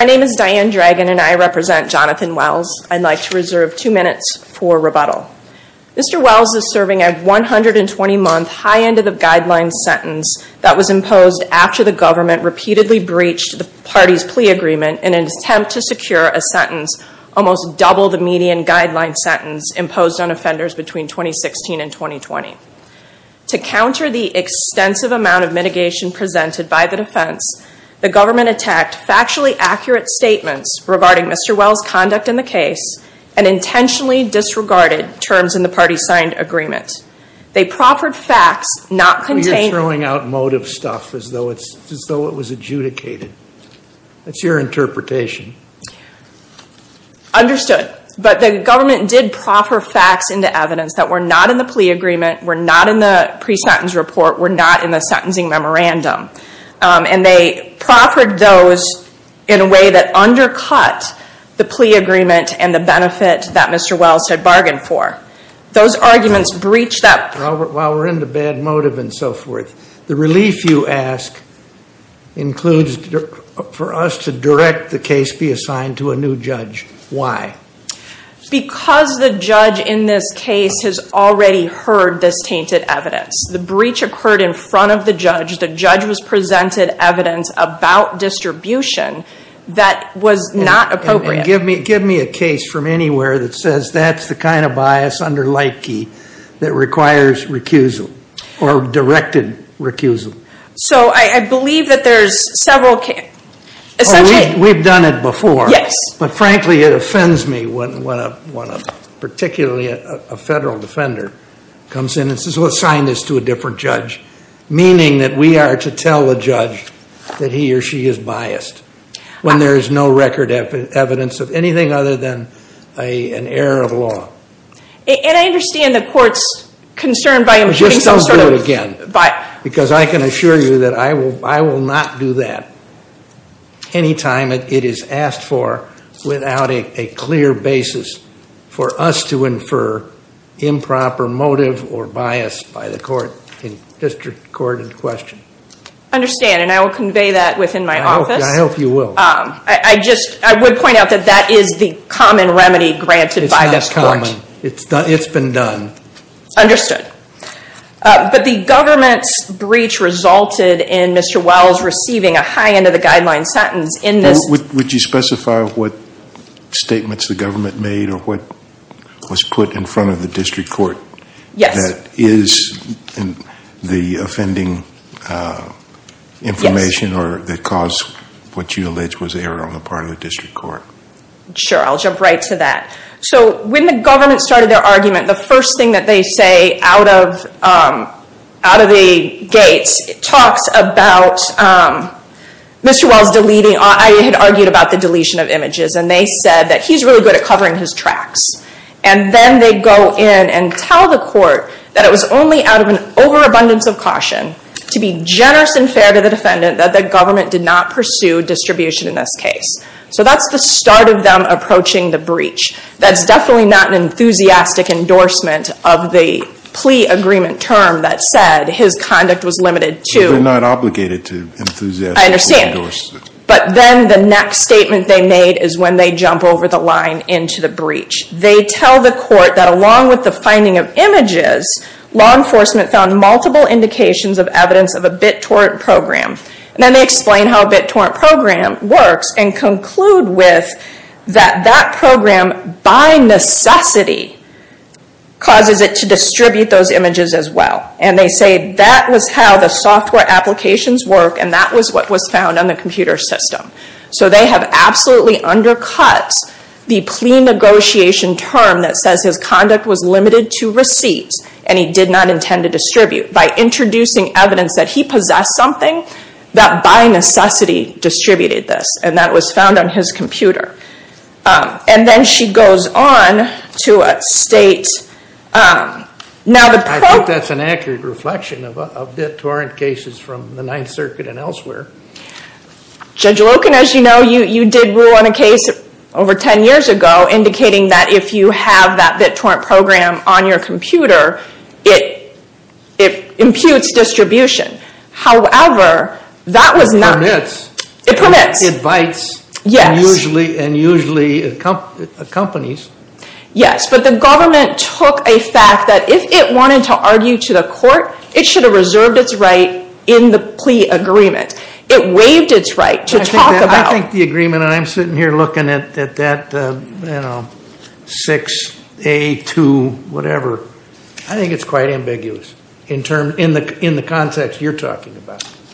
My name is Diane Dragon and I represent Jonathan Wells. I'd like to reserve two minutes for rebuttal. Mr. Wells is serving a 120-month, high-end-of-the-guideline sentence that was imposed after the government repeatedly breached the party's plea agreement in an attempt to secure a sentence almost double the median guideline sentence imposed on offenders between 2016 and 2020. To counter the extensive amount of mitigation presented by the defense, the government attacked factually accurate statements regarding Mr. Wells' conduct in the case and intentionally disregarded terms in the party-signed agreement. They proffered facts not contained in the plea agreement. Judge Goldberg Well, you're throwing out motive stuff as though it's, as though it was adjudicated. That's your interpretation. Diane Dragon Understood, but the government did proffer facts into evidence that were not in the plea agreement, were not in the pre-sentence report, were not in the sentencing memorandum. And they proffered those in a way that undercut the plea agreement and the benefit that Mr. Wells had bargained for. Those arguments breached that. Judge Goldberg While we're into bad motive and so forth, the relief you ask includes for us to direct the case be assigned to a new judge. Why? Diane Dragon Because the judge in this case has already heard this tainted evidence. The breach occurred in front of the judge. The judge was presented evidence about distribution that was not appropriate. Judge Goldberg And give me a case from anywhere that says that's the kind of bias under Leitke that requires recusal or directed recusal. Diane Dragon So I believe that there's several cases. Essentially Judge Goldberg Oh, we've done it before. Diane Dragon Yes. Judge Goldberg But frankly, it offends me when a, particularly a federal defender comes in and says, well, assign this to a different judge, meaning that we are to tell the judge that he or she is biased when there is no record evidence of anything other than an error of law. Diane Dragon And I understand the court's concern by imputing some sort of Judge Goldberg Just don't do it again because I can assure you that I will not do that anytime it is asked for without a clear basis for us to question. Diane Dragon Understand, and I will convey that within my office. Judge Goldberg I hope you will. Diane Dragon I just, I would point out that that is the common remedy granted by this court. Judge Goldberg It's not common. It's been done. Diane Dragon Understood. But the government's breach resulted in Mr. Wells receiving a high end of the guideline sentence in this made or what was put in front of the district court? Diane Dragon Yes. Judge Goldberg Was this the offending information that caused what you allege was error on the part of the district court? Diane Dragon Sure. I will jump right to that. So when the government started their argument, the first thing that they say out of the gates talks about Mr. Wells deleting, I had argued about the deletion of images, and they said that he's really good at covering his tracks. And then they go in and tell the court that it was only out of an overabundance of caution to be generous and fair to the defendant that the government did not pursue distribution in this case. So that's the start of them approaching the breach. That's definitely not an enthusiastic endorsement of the plea agreement term that said his conduct was limited to Judge Goldberg They're not obligated to enthusiastically endorse it. Diane Dragon I understand. But then the next statement they made is when they jump over the line into the breach. They tell the court that along with the finding of images, law enforcement found multiple indications of evidence of a BitTorrent program. And then they explain how a BitTorrent program works and conclude with that that program by necessity causes it to distribute those images as well. And they say that was how the software applications work and that was what was found on the computer system. So they have absolutely undercut the plea negotiation term that says his conduct was limited to receipts and he did not intend to distribute. By introducing evidence that he possessed something, that by necessity distributed this. And that was found on his computer. And then she goes on to state, I think that's an accurate reflection of BitTorrent cases from the Ninth Circuit and elsewhere. Judge Loken, as you know, you did rule on a case over ten years ago indicating that if you have that BitTorrent program on your computer, it imputes distribution. However, that was not... Judge Loken Permits. Diane Dragon It permits. Judge Loken It bites. Diane Dragon Yes. Judge Loken And usually accompanies. Diane Dragon Yes. But the government took a fact that if it wanted to argue to the court, it should have it waived its right to talk about... Judge Loken I think the agreement, and I'm sitting here looking at that 6A2 whatever, I think it's quite ambiguous in the context you're talking about. Diane Dragon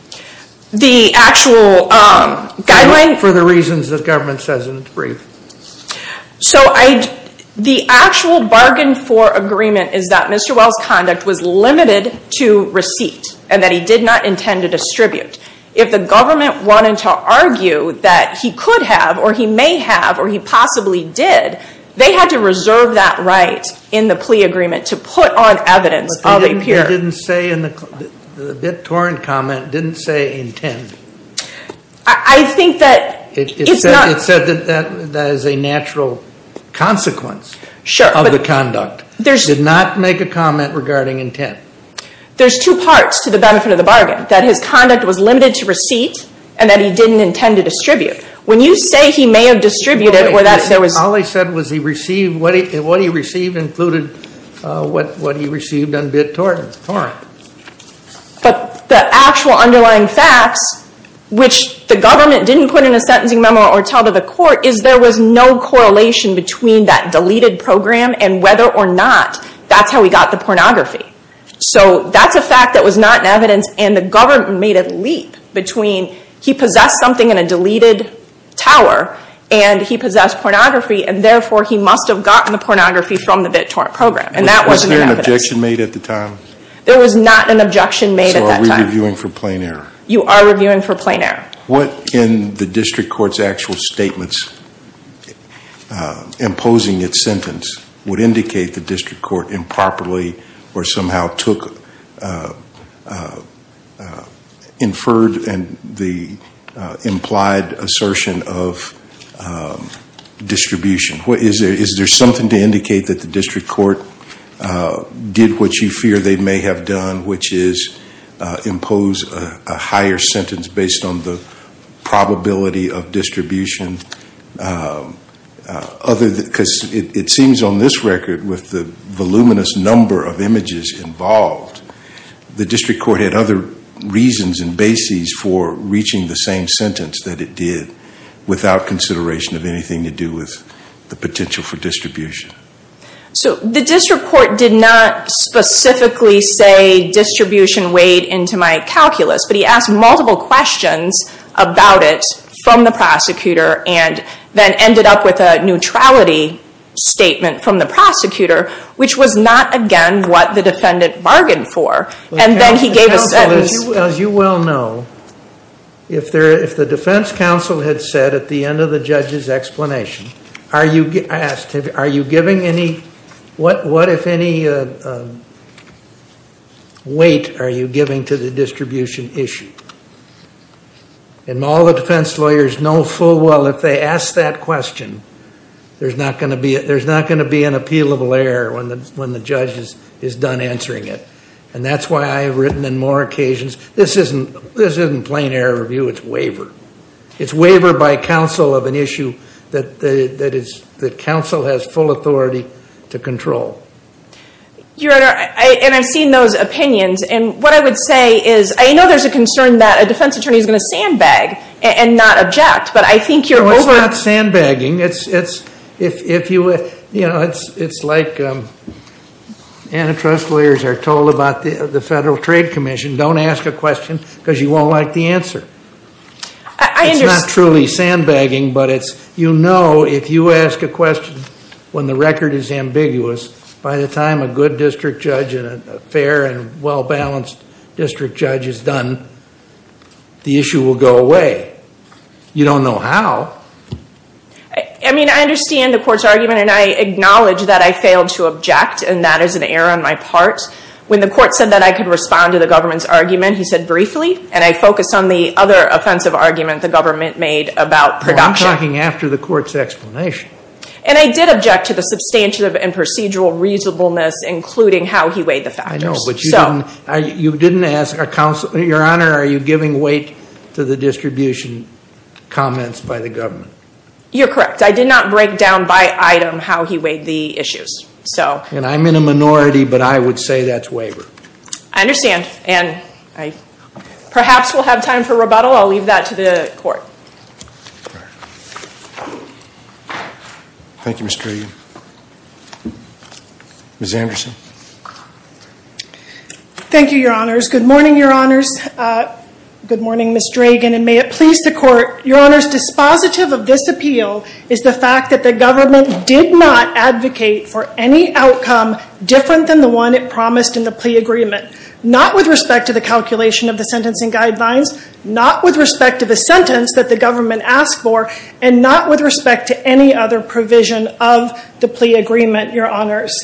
The actual guideline... Judge Loken For the reasons the government says in its brief. Diane Dragon So the actual bargain for agreement is that Mr. Well's conduct was limited to receipts and that he did not intend to distribute. If the government wanted to argue that he could have or he may have or he possibly did, they had to reserve that right in the plea agreement to put on evidence... Judge Loken But the BitTorrent comment didn't say intent. Diane Dragon I think that it's not... Judge Loken It said that that is a natural consequence of the conduct. It did not make a comment regarding intent. Diane Dragon There's two parts to the benefit of the bargain. That his conduct was limited to receipts and that he didn't intend to distribute. When you say he may have distributed or that there was... Judge Loken All he said was he received, what he received included what he received on BitTorrent. Diane Dragon But the actual underlying facts, which the government didn't put in a sentencing memo or tell to the court, is there was no correlation between that deleted program and whether or not that's how he got the pornography. So that's a fact that was not in evidence and the government made a leap between he possessed something in a deleted tower and he possessed pornography and therefore he must have gotten the pornography from the BitTorrent program. And that wasn't in evidence. Judge Loken Was there an objection made at the time? Diane Dragon There was not an objection made at that time. Judge Loken So are we reviewing for plain error? Diane Dragon You are reviewing for plain error. Judge Loken What in the district court's actual statements imposing its sentence would indicate the district court improperly or somehow took inferred and the implied assertion of distribution? Is there something to indicate that the district court did what you fear they may have done, which is impose a higher sentence based on the probability of distribution? It seems on this record, with the voluminous number of images involved, the district court had other reasons and bases for reaching the same sentence that it did without consideration of anything to do with the potential for distribution. Diane Dragon So the district court did not specifically say distribution weighed into my calculus, but he asked multiple questions about it from the prosecutor and then ended up with a neutrality statement from the prosecutor, which was not again what the defendant bargained for. And then he gave a sentence. Judge Loken As you well know, if the defense counsel had said at the end of the judge's explanation, what if any weight are you giving to the distribution issue? And all the defense lawyers know full well if they ask that question, there's not going to be an appealable error when the judge is done answering it. And that's why I have written on more occasions, this isn't plain error review, it's waiver. It's waiver by counsel of an issue that counsel has full authority to control. Diane Dragon Your Honor, and I've seen those opinions, and what I would say is, I know there's a concern that a defense attorney is going to sandbag and not object, but I think you're over... Judge Loken Well, it's not sandbagging. It's like antitrust lawyers are told about the Federal Trade Commission, don't ask a question because you won't like the answer. It's not truly sandbagging, but it's, you know, if you ask a question when the record is ambiguous, by the time a good district judge and a fair and well-balanced district judge is done, the issue will go away. You don't know how. Diane Dragon I mean, I understand the court's argument, and I acknowledge that I failed to object, and that is an error on my part. When the court said that I could respond to the government's argument, he said briefly, and I focused on the other offensive argument the government made about production. Judge Loken Well, I'm talking after the court's explanation. Diane Dragon And I did object to the substantive and procedural reasonableness, including how he weighed the factors. Judge Loken I know, but you didn't ask, Your Honor, are you giving weight to the distribution comments by the government? Diane Dragon You're correct. I did not break down by item how he weighed the issues, so... Judge Loken And I'm in a minority, but I would say that's waiver. Diane Dragon I understand. And perhaps we'll have time for rebuttal. I'll leave that to the court. Judge Loken Thank you, Ms. Dragon. Ms. Anderson. Ms. Anderson Thank you, Your Honors. Good morning, Your Honors. Good morning, Ms. Dragon, and may it please the court. Your Honors, dispositive of this appeal is the fact that the government did not advocate for any outcome different than the one it promised in the plea agreement. Not with respect to the calculation of the sentencing guidelines, not with respect to the sentence that the government asked for, and not with respect to any other provision of the plea agreement, Your Honors.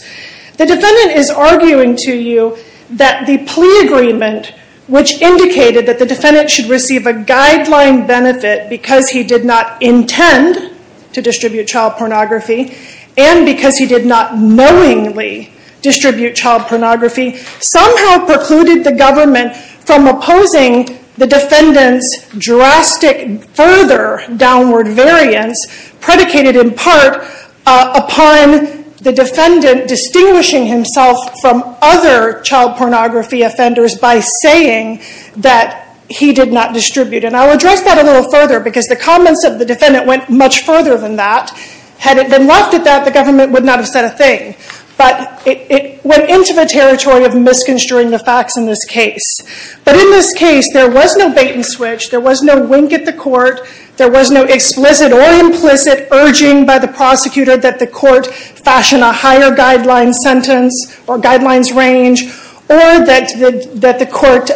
The defendant is arguing to you that the plea agreement, which indicated that the defendant should receive a guideline benefit because he did not intend to distribute child pornography and because he did not knowingly distribute child pornography, somehow precluded the government from opposing the defendant's drastic further downward variance predicated in part upon the defendant distinguishing himself from other child pornography offenders by saying that he did not distribute. And I'll address that a little further because the comments of the defendant went much further than that. Had it been left at that, the government would not have said a thing, but it went into the territory of misconstruing the facts in this case. But in this case, there was no bait and switch. There was no wink at the court. There was no explicit or implicit urging by the prosecutor that the court fashion a higher guideline sentence or guidelines range, or that the court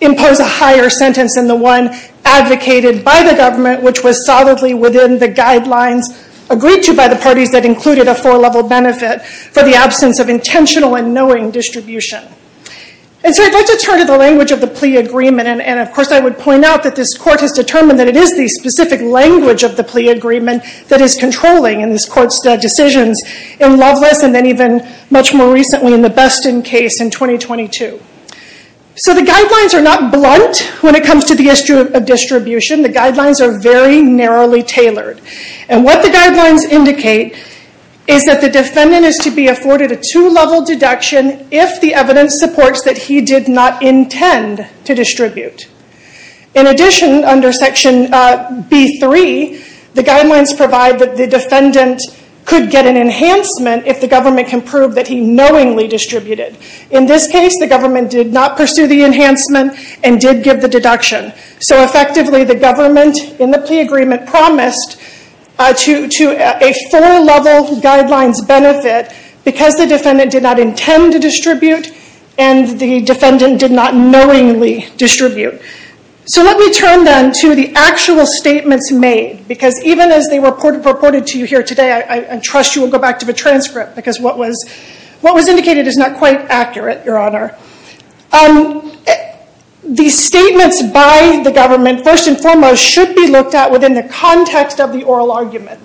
impose a higher sentence than the one advocated by the government, which was solidly within the guidelines agreed to by the parties that included a four-level benefit for the absence of intentional and knowing distribution. And so I'd like to turn to the language of the plea agreement. And of course, I would point out that this court has determined that it is the specific language of the plea agreement that is controlling in this court's decisions in Loveless and then even much more recently in the Beston case in 2022. So the guidelines are not blunt when it comes to the issue of distribution. The guidelines are very narrowly tailored. And what the guidelines indicate is that the defendant is to be afforded a two-level deduction if the evidence supports that he did not intend to distribute. In addition, under section B3, the guidelines provide that the defendant could get an enhancement if the government can prove that he knowingly distributed. In this case, the government did not pursue the enhancement and did give the deduction. So effectively, the government in the plea agreement promised to a four-level guidelines benefit because the defendant did not intend to distribute and the defendant did not knowingly distribute. So let me turn then to the actual statements made because even as they were purported to you here today, I trust you will go back to the transcript because what was indicated is not quite accurate, Your Honor. The statements by the government first and foremost should be looked at within the context of the oral argument.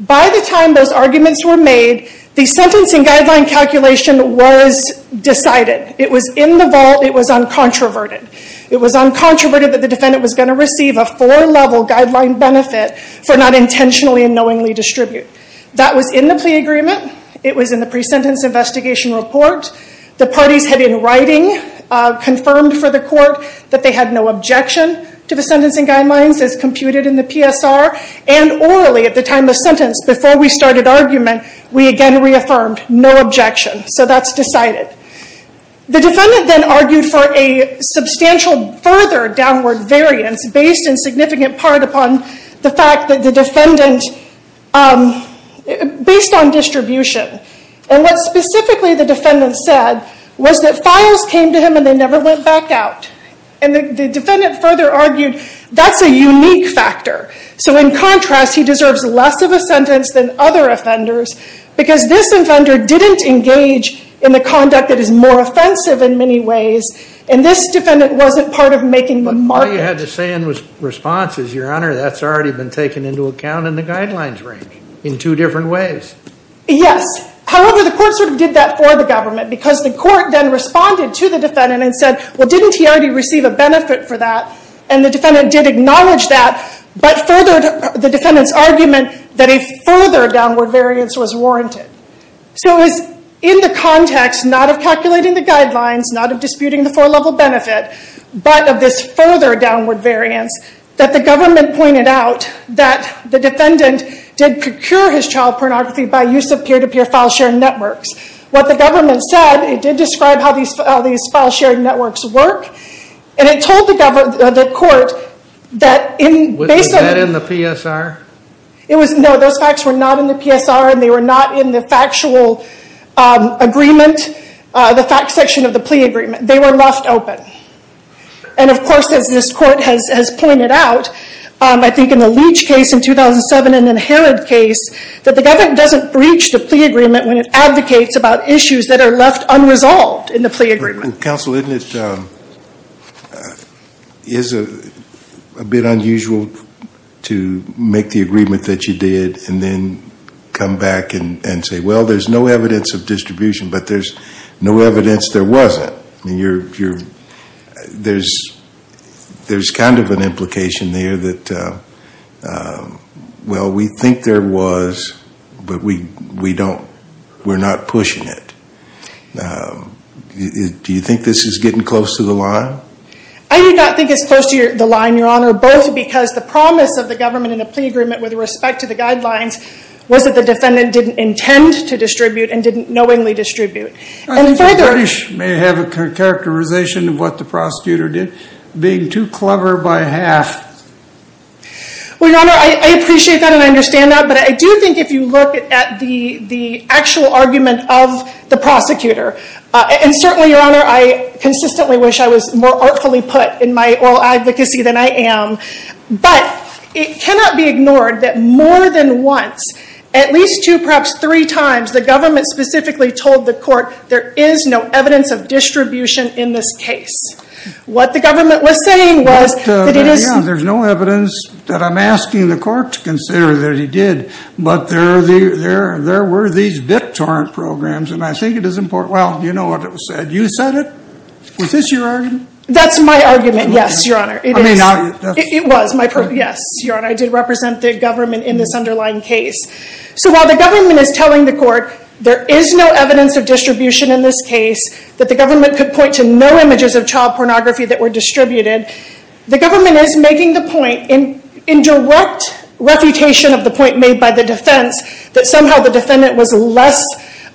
By the time those arguments were made, the sentencing guideline calculation was decided. It was in the vault. It was uncontroverted. It was uncontroverted that the defendant was going to receive a four-level guideline benefit for not intentionally and knowingly distribute. That was in the plea agreement. It was in the pre-sentence investigation report. The parties had in writing confirmed for the court that they had no objection to the sentencing guidelines as computed in the PSR and orally at the time of sentence before we started argument, we again reaffirmed no objection. So that's decided. The defendant then argued for a substantial further downward variance based in significant part upon the fact that the defendant, based on distribution, and what specifically the defendant said was that files came to him and they never went back out. The defendant further argued that's a unique factor. So in contrast, he deserves less of a sentence than other offenders because this offender didn't engage in the conduct that is more offensive in many ways and this defendant wasn't part of making the market. All you had to say in response is, your honor, that's already been taken into account in the guidelines range in two different ways. Yes. However, the court sort of did that for the government because the court then responded to the defendant and said, well, didn't he already receive a benefit for that? And the defendant did acknowledge that but furthered the defendant's argument that a further downward variance was warranted. So it was in the context not of calculating the guidelines, not of disputing the four-level benefit, but of this further downward variance that the government pointed out that the defendant did procure his child pornography by use of peer-to-peer file-sharing networks. What the government said, it did describe how these file-sharing networks work and it told the court that in basic... Was that in the PSR? It was, no, those facts were not in the PSR and they were not in the factual agreement, the fact section of the plea agreement. They were left open. And, of course, as this court has pointed out, I think in the Leach case in 2007 and in the Herod case, that the government doesn't breach the plea agreement when it advocates about issues that are left unresolved in the plea agreement. Counsel, isn't it a bit unusual to make the agreement that you did and then come back and say, well, there's no evidence of distribution, but there's no evidence there wasn't. I mean, there's kind of an implication there that, well, we think there was, but we're not pushing it. Do you think this is getting close to the line? I do not think it's close to the line, Your Honor, both because the promise of the government in the plea agreement with respect to the guidelines was that the defendant didn't intend to distribute and didn't knowingly distribute. I think the British may have a characterization of what the prosecutor did, being too clever by half. Well, Your Honor, I appreciate that and I understand that, but I do think if you look at the actual argument of the prosecutor, and certainly, Your Honor, I consistently wish I was more artfully put in my oral advocacy than I am, but it cannot be ignored that more than once, at least two, perhaps three times, the government specifically told the court there is no evidence of distribution in this case. What the government was saying was that it is... There's no evidence that I'm asking the court to consider that he did, but there were these victor programs and I think it is important. Well, you know what it said. You said it. Was this your argument? That's my argument. Yes, Your Honor. It is. It was my... Yes, Your Honor, I did represent the government in this underlying case. So while the government is telling the court there is no evidence of distribution in this case, that the government could point to no images of child pornography that were distributed, the government is making the point, in direct refutation of the point made by the defense, that somehow the defendant was less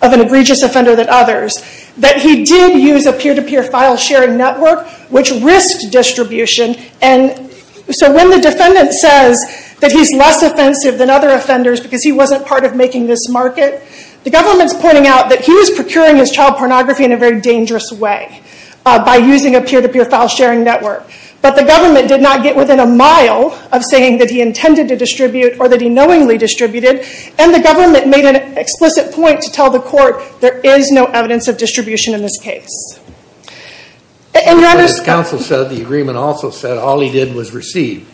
of an egregious offender than others, that he did use a peer-to-peer file sharing network, which risked distribution. And so when the defendant says that he's less offensive than other offenders because he wasn't part of making this market, the government's pointing out that he was procuring his child pornography in a very dangerous way, by using a peer-to-peer file sharing network. But the government did not get within a mile of saying that he intended to distribute or that he knowingly distributed, and the government made an explicit point to tell the court there is no evidence of distribution in this case. And you understand... But as counsel said, the agreement also said all he did was receive.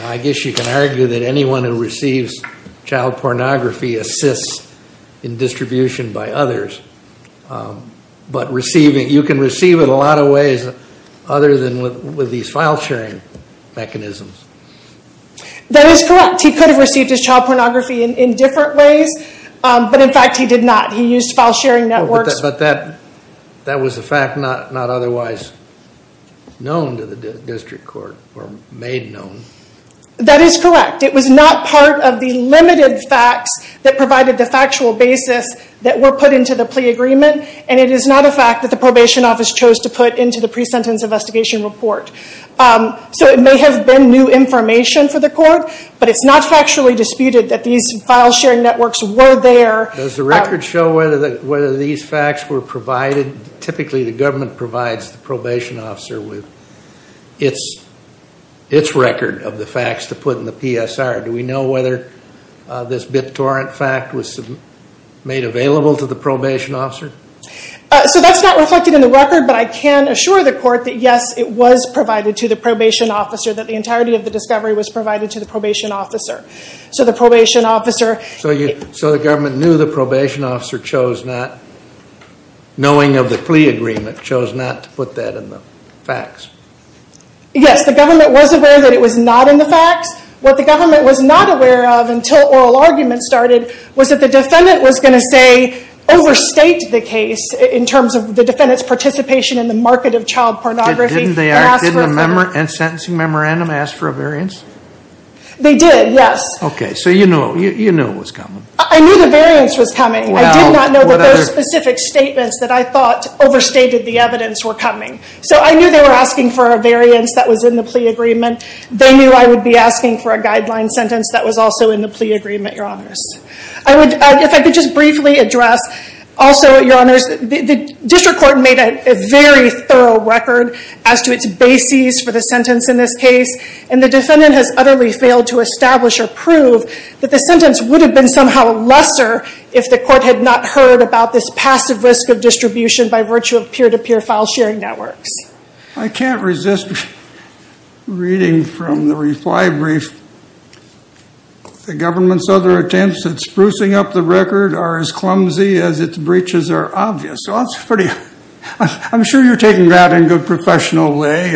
I guess you can argue that anyone who receives child pornography assists in distribution by others, but receiving, you can receive it a lot of ways other than with these file sharing mechanisms. That is correct. He could have received his child pornography in different ways, but in fact he did not. He used file sharing networks. But that was a fact not otherwise known to the district court, or made known. That is correct. It was not part of the limited facts that provided the factual basis that were put into the plea agreement, and it is not a fact that the probation office chose to put into the pre-sentence investigation report. So it may have been new information for the court, but it's not factually disputed that these file sharing networks were there. Does the record show whether these facts were provided? Typically the government provides the probation officer with its record of the facts to put in the PSR. Do we know whether this BitTorrent fact was made available to the probation officer? So that is not reflected in the record, but I can assure the court that yes, it was provided to the probation officer, that the entirety of the discovery was provided to the probation officer. So the government knew the probation officer chose not, knowing of the plea agreement, chose not to put that in the facts? Yes, the government was aware that it was not in the facts. What the government was not aware of until oral arguments started was that the defendant was going to, say, overstate the case in terms of the defendant's participation in the market of child pornography. Didn't the sentencing memorandum ask for a variance? They did, yes. Okay, so you knew it was coming. I knew the variance was coming. I did not know that those specific statements that I thought overstated the evidence were coming. So I knew they were asking for a variance that was in the plea agreement. They knew I would be asking for a guideline sentence that was also in the plea agreement, Your Honors. If I could just briefly address, also, Your Honors, the district court made a very thorough record as to its bases for the sentence in this case, and the defendant has utterly failed to establish or prove that the sentence would have been somehow lesser if the court had not heard about this passive risk of distribution by virtue of peer-to-peer file sharing networks. I can't resist reading from the reply brief, the government's other attempts at sprucing up the record are as clumsy as its breaches are obvious. I'm sure you're taking that in a good professional way.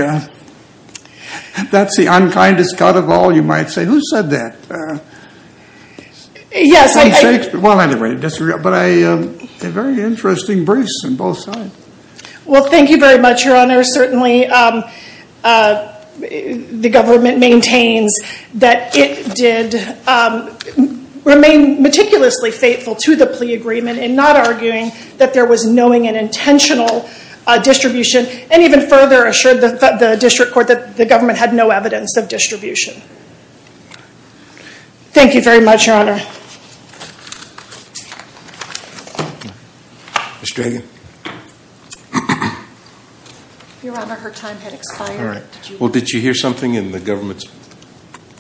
That's the unkindest cut of all, you might say. Who said that? Yes, I did. Well, anyway, I disagree, but they're very interesting briefs on both sides. Well, thank you very much, Your Honors. Certainly, the government maintains that it did remain meticulously faithful to the plea agreement, and not arguing that there was knowing and intentional distribution, and even further assured the district court that the government had no evidence of distribution. Thank you very much, Your Honor. Ms. Dragan? Your Honor, her time has expired. All right. Well, did you hear something in the government's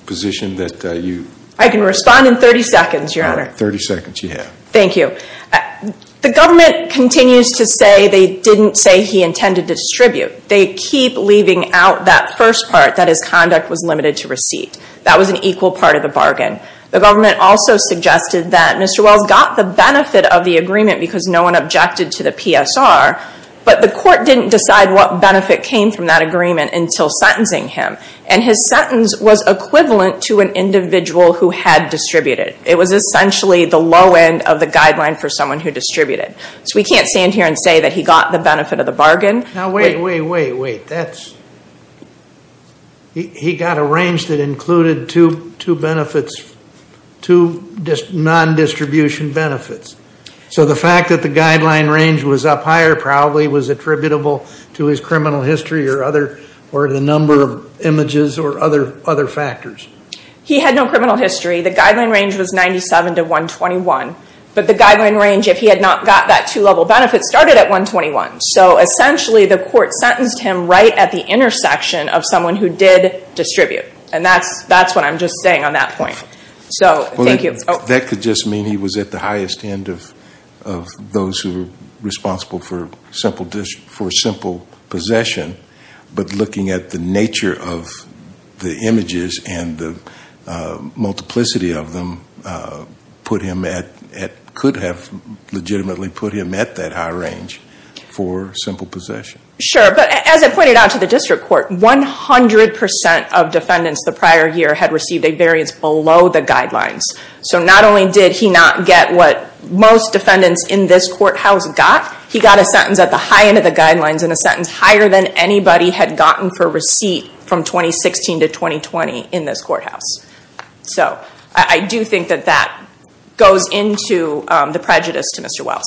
position that you... I can respond in 30 seconds, Your Honor. All right, 30 seconds you have. Thank you. The government continues to say they didn't say he intended to distribute. They keep leaving out that first part, that his conduct was limited to receipt. That was an equal part of the bargain. The government also suggested that Mr. Wells got the benefit of the agreement because no one objected to the PSR, but the court didn't decide what benefit came from that agreement until sentencing him, and his sentence was equivalent to an individual who had distributed. It was essentially the low end of the guideline for someone who distributed. So we can't stand here and say that he got the benefit of the bargain. Now, wait, wait, wait, wait. He got a range that included two non-distribution benefits. So the fact that the guideline range was up higher probably was attributable to his criminal history or the number of images or other factors. He had no criminal history. The guideline range was 97 to 121. But the guideline range, if he had not got that two-level benefit, started at 121. So essentially the court sentenced him right at the intersection of someone who did distribute. And that's what I'm just saying on that point. So thank you. That could just mean he was at the highest end of those who were responsible for simple possession. But looking at the nature of the images and the multiplicity of them, could have legitimately put him at that high range for simple possession. Sure. But as I pointed out to the district court, 100 percent of defendants the prior year had received a variance below the guidelines. So not only did he not get what most defendants in this courthouse got, he got a sentence at the high end of the guidelines and a sentence higher than anybody had gotten for receipt from 2016 to 2020 in this courthouse. So I do think that that goes into the prejudice to Mr. Wells.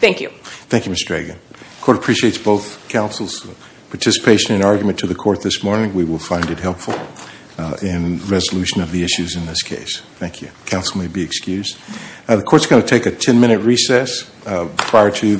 Thank you. Thank you, Ms. Dragan. The court appreciates both counsel's participation and argument to the court this morning. We will find it helpful in resolution of the issues in this case. Thank you. Counsel may be excused. The court is going to take a 10-minute recess prior to.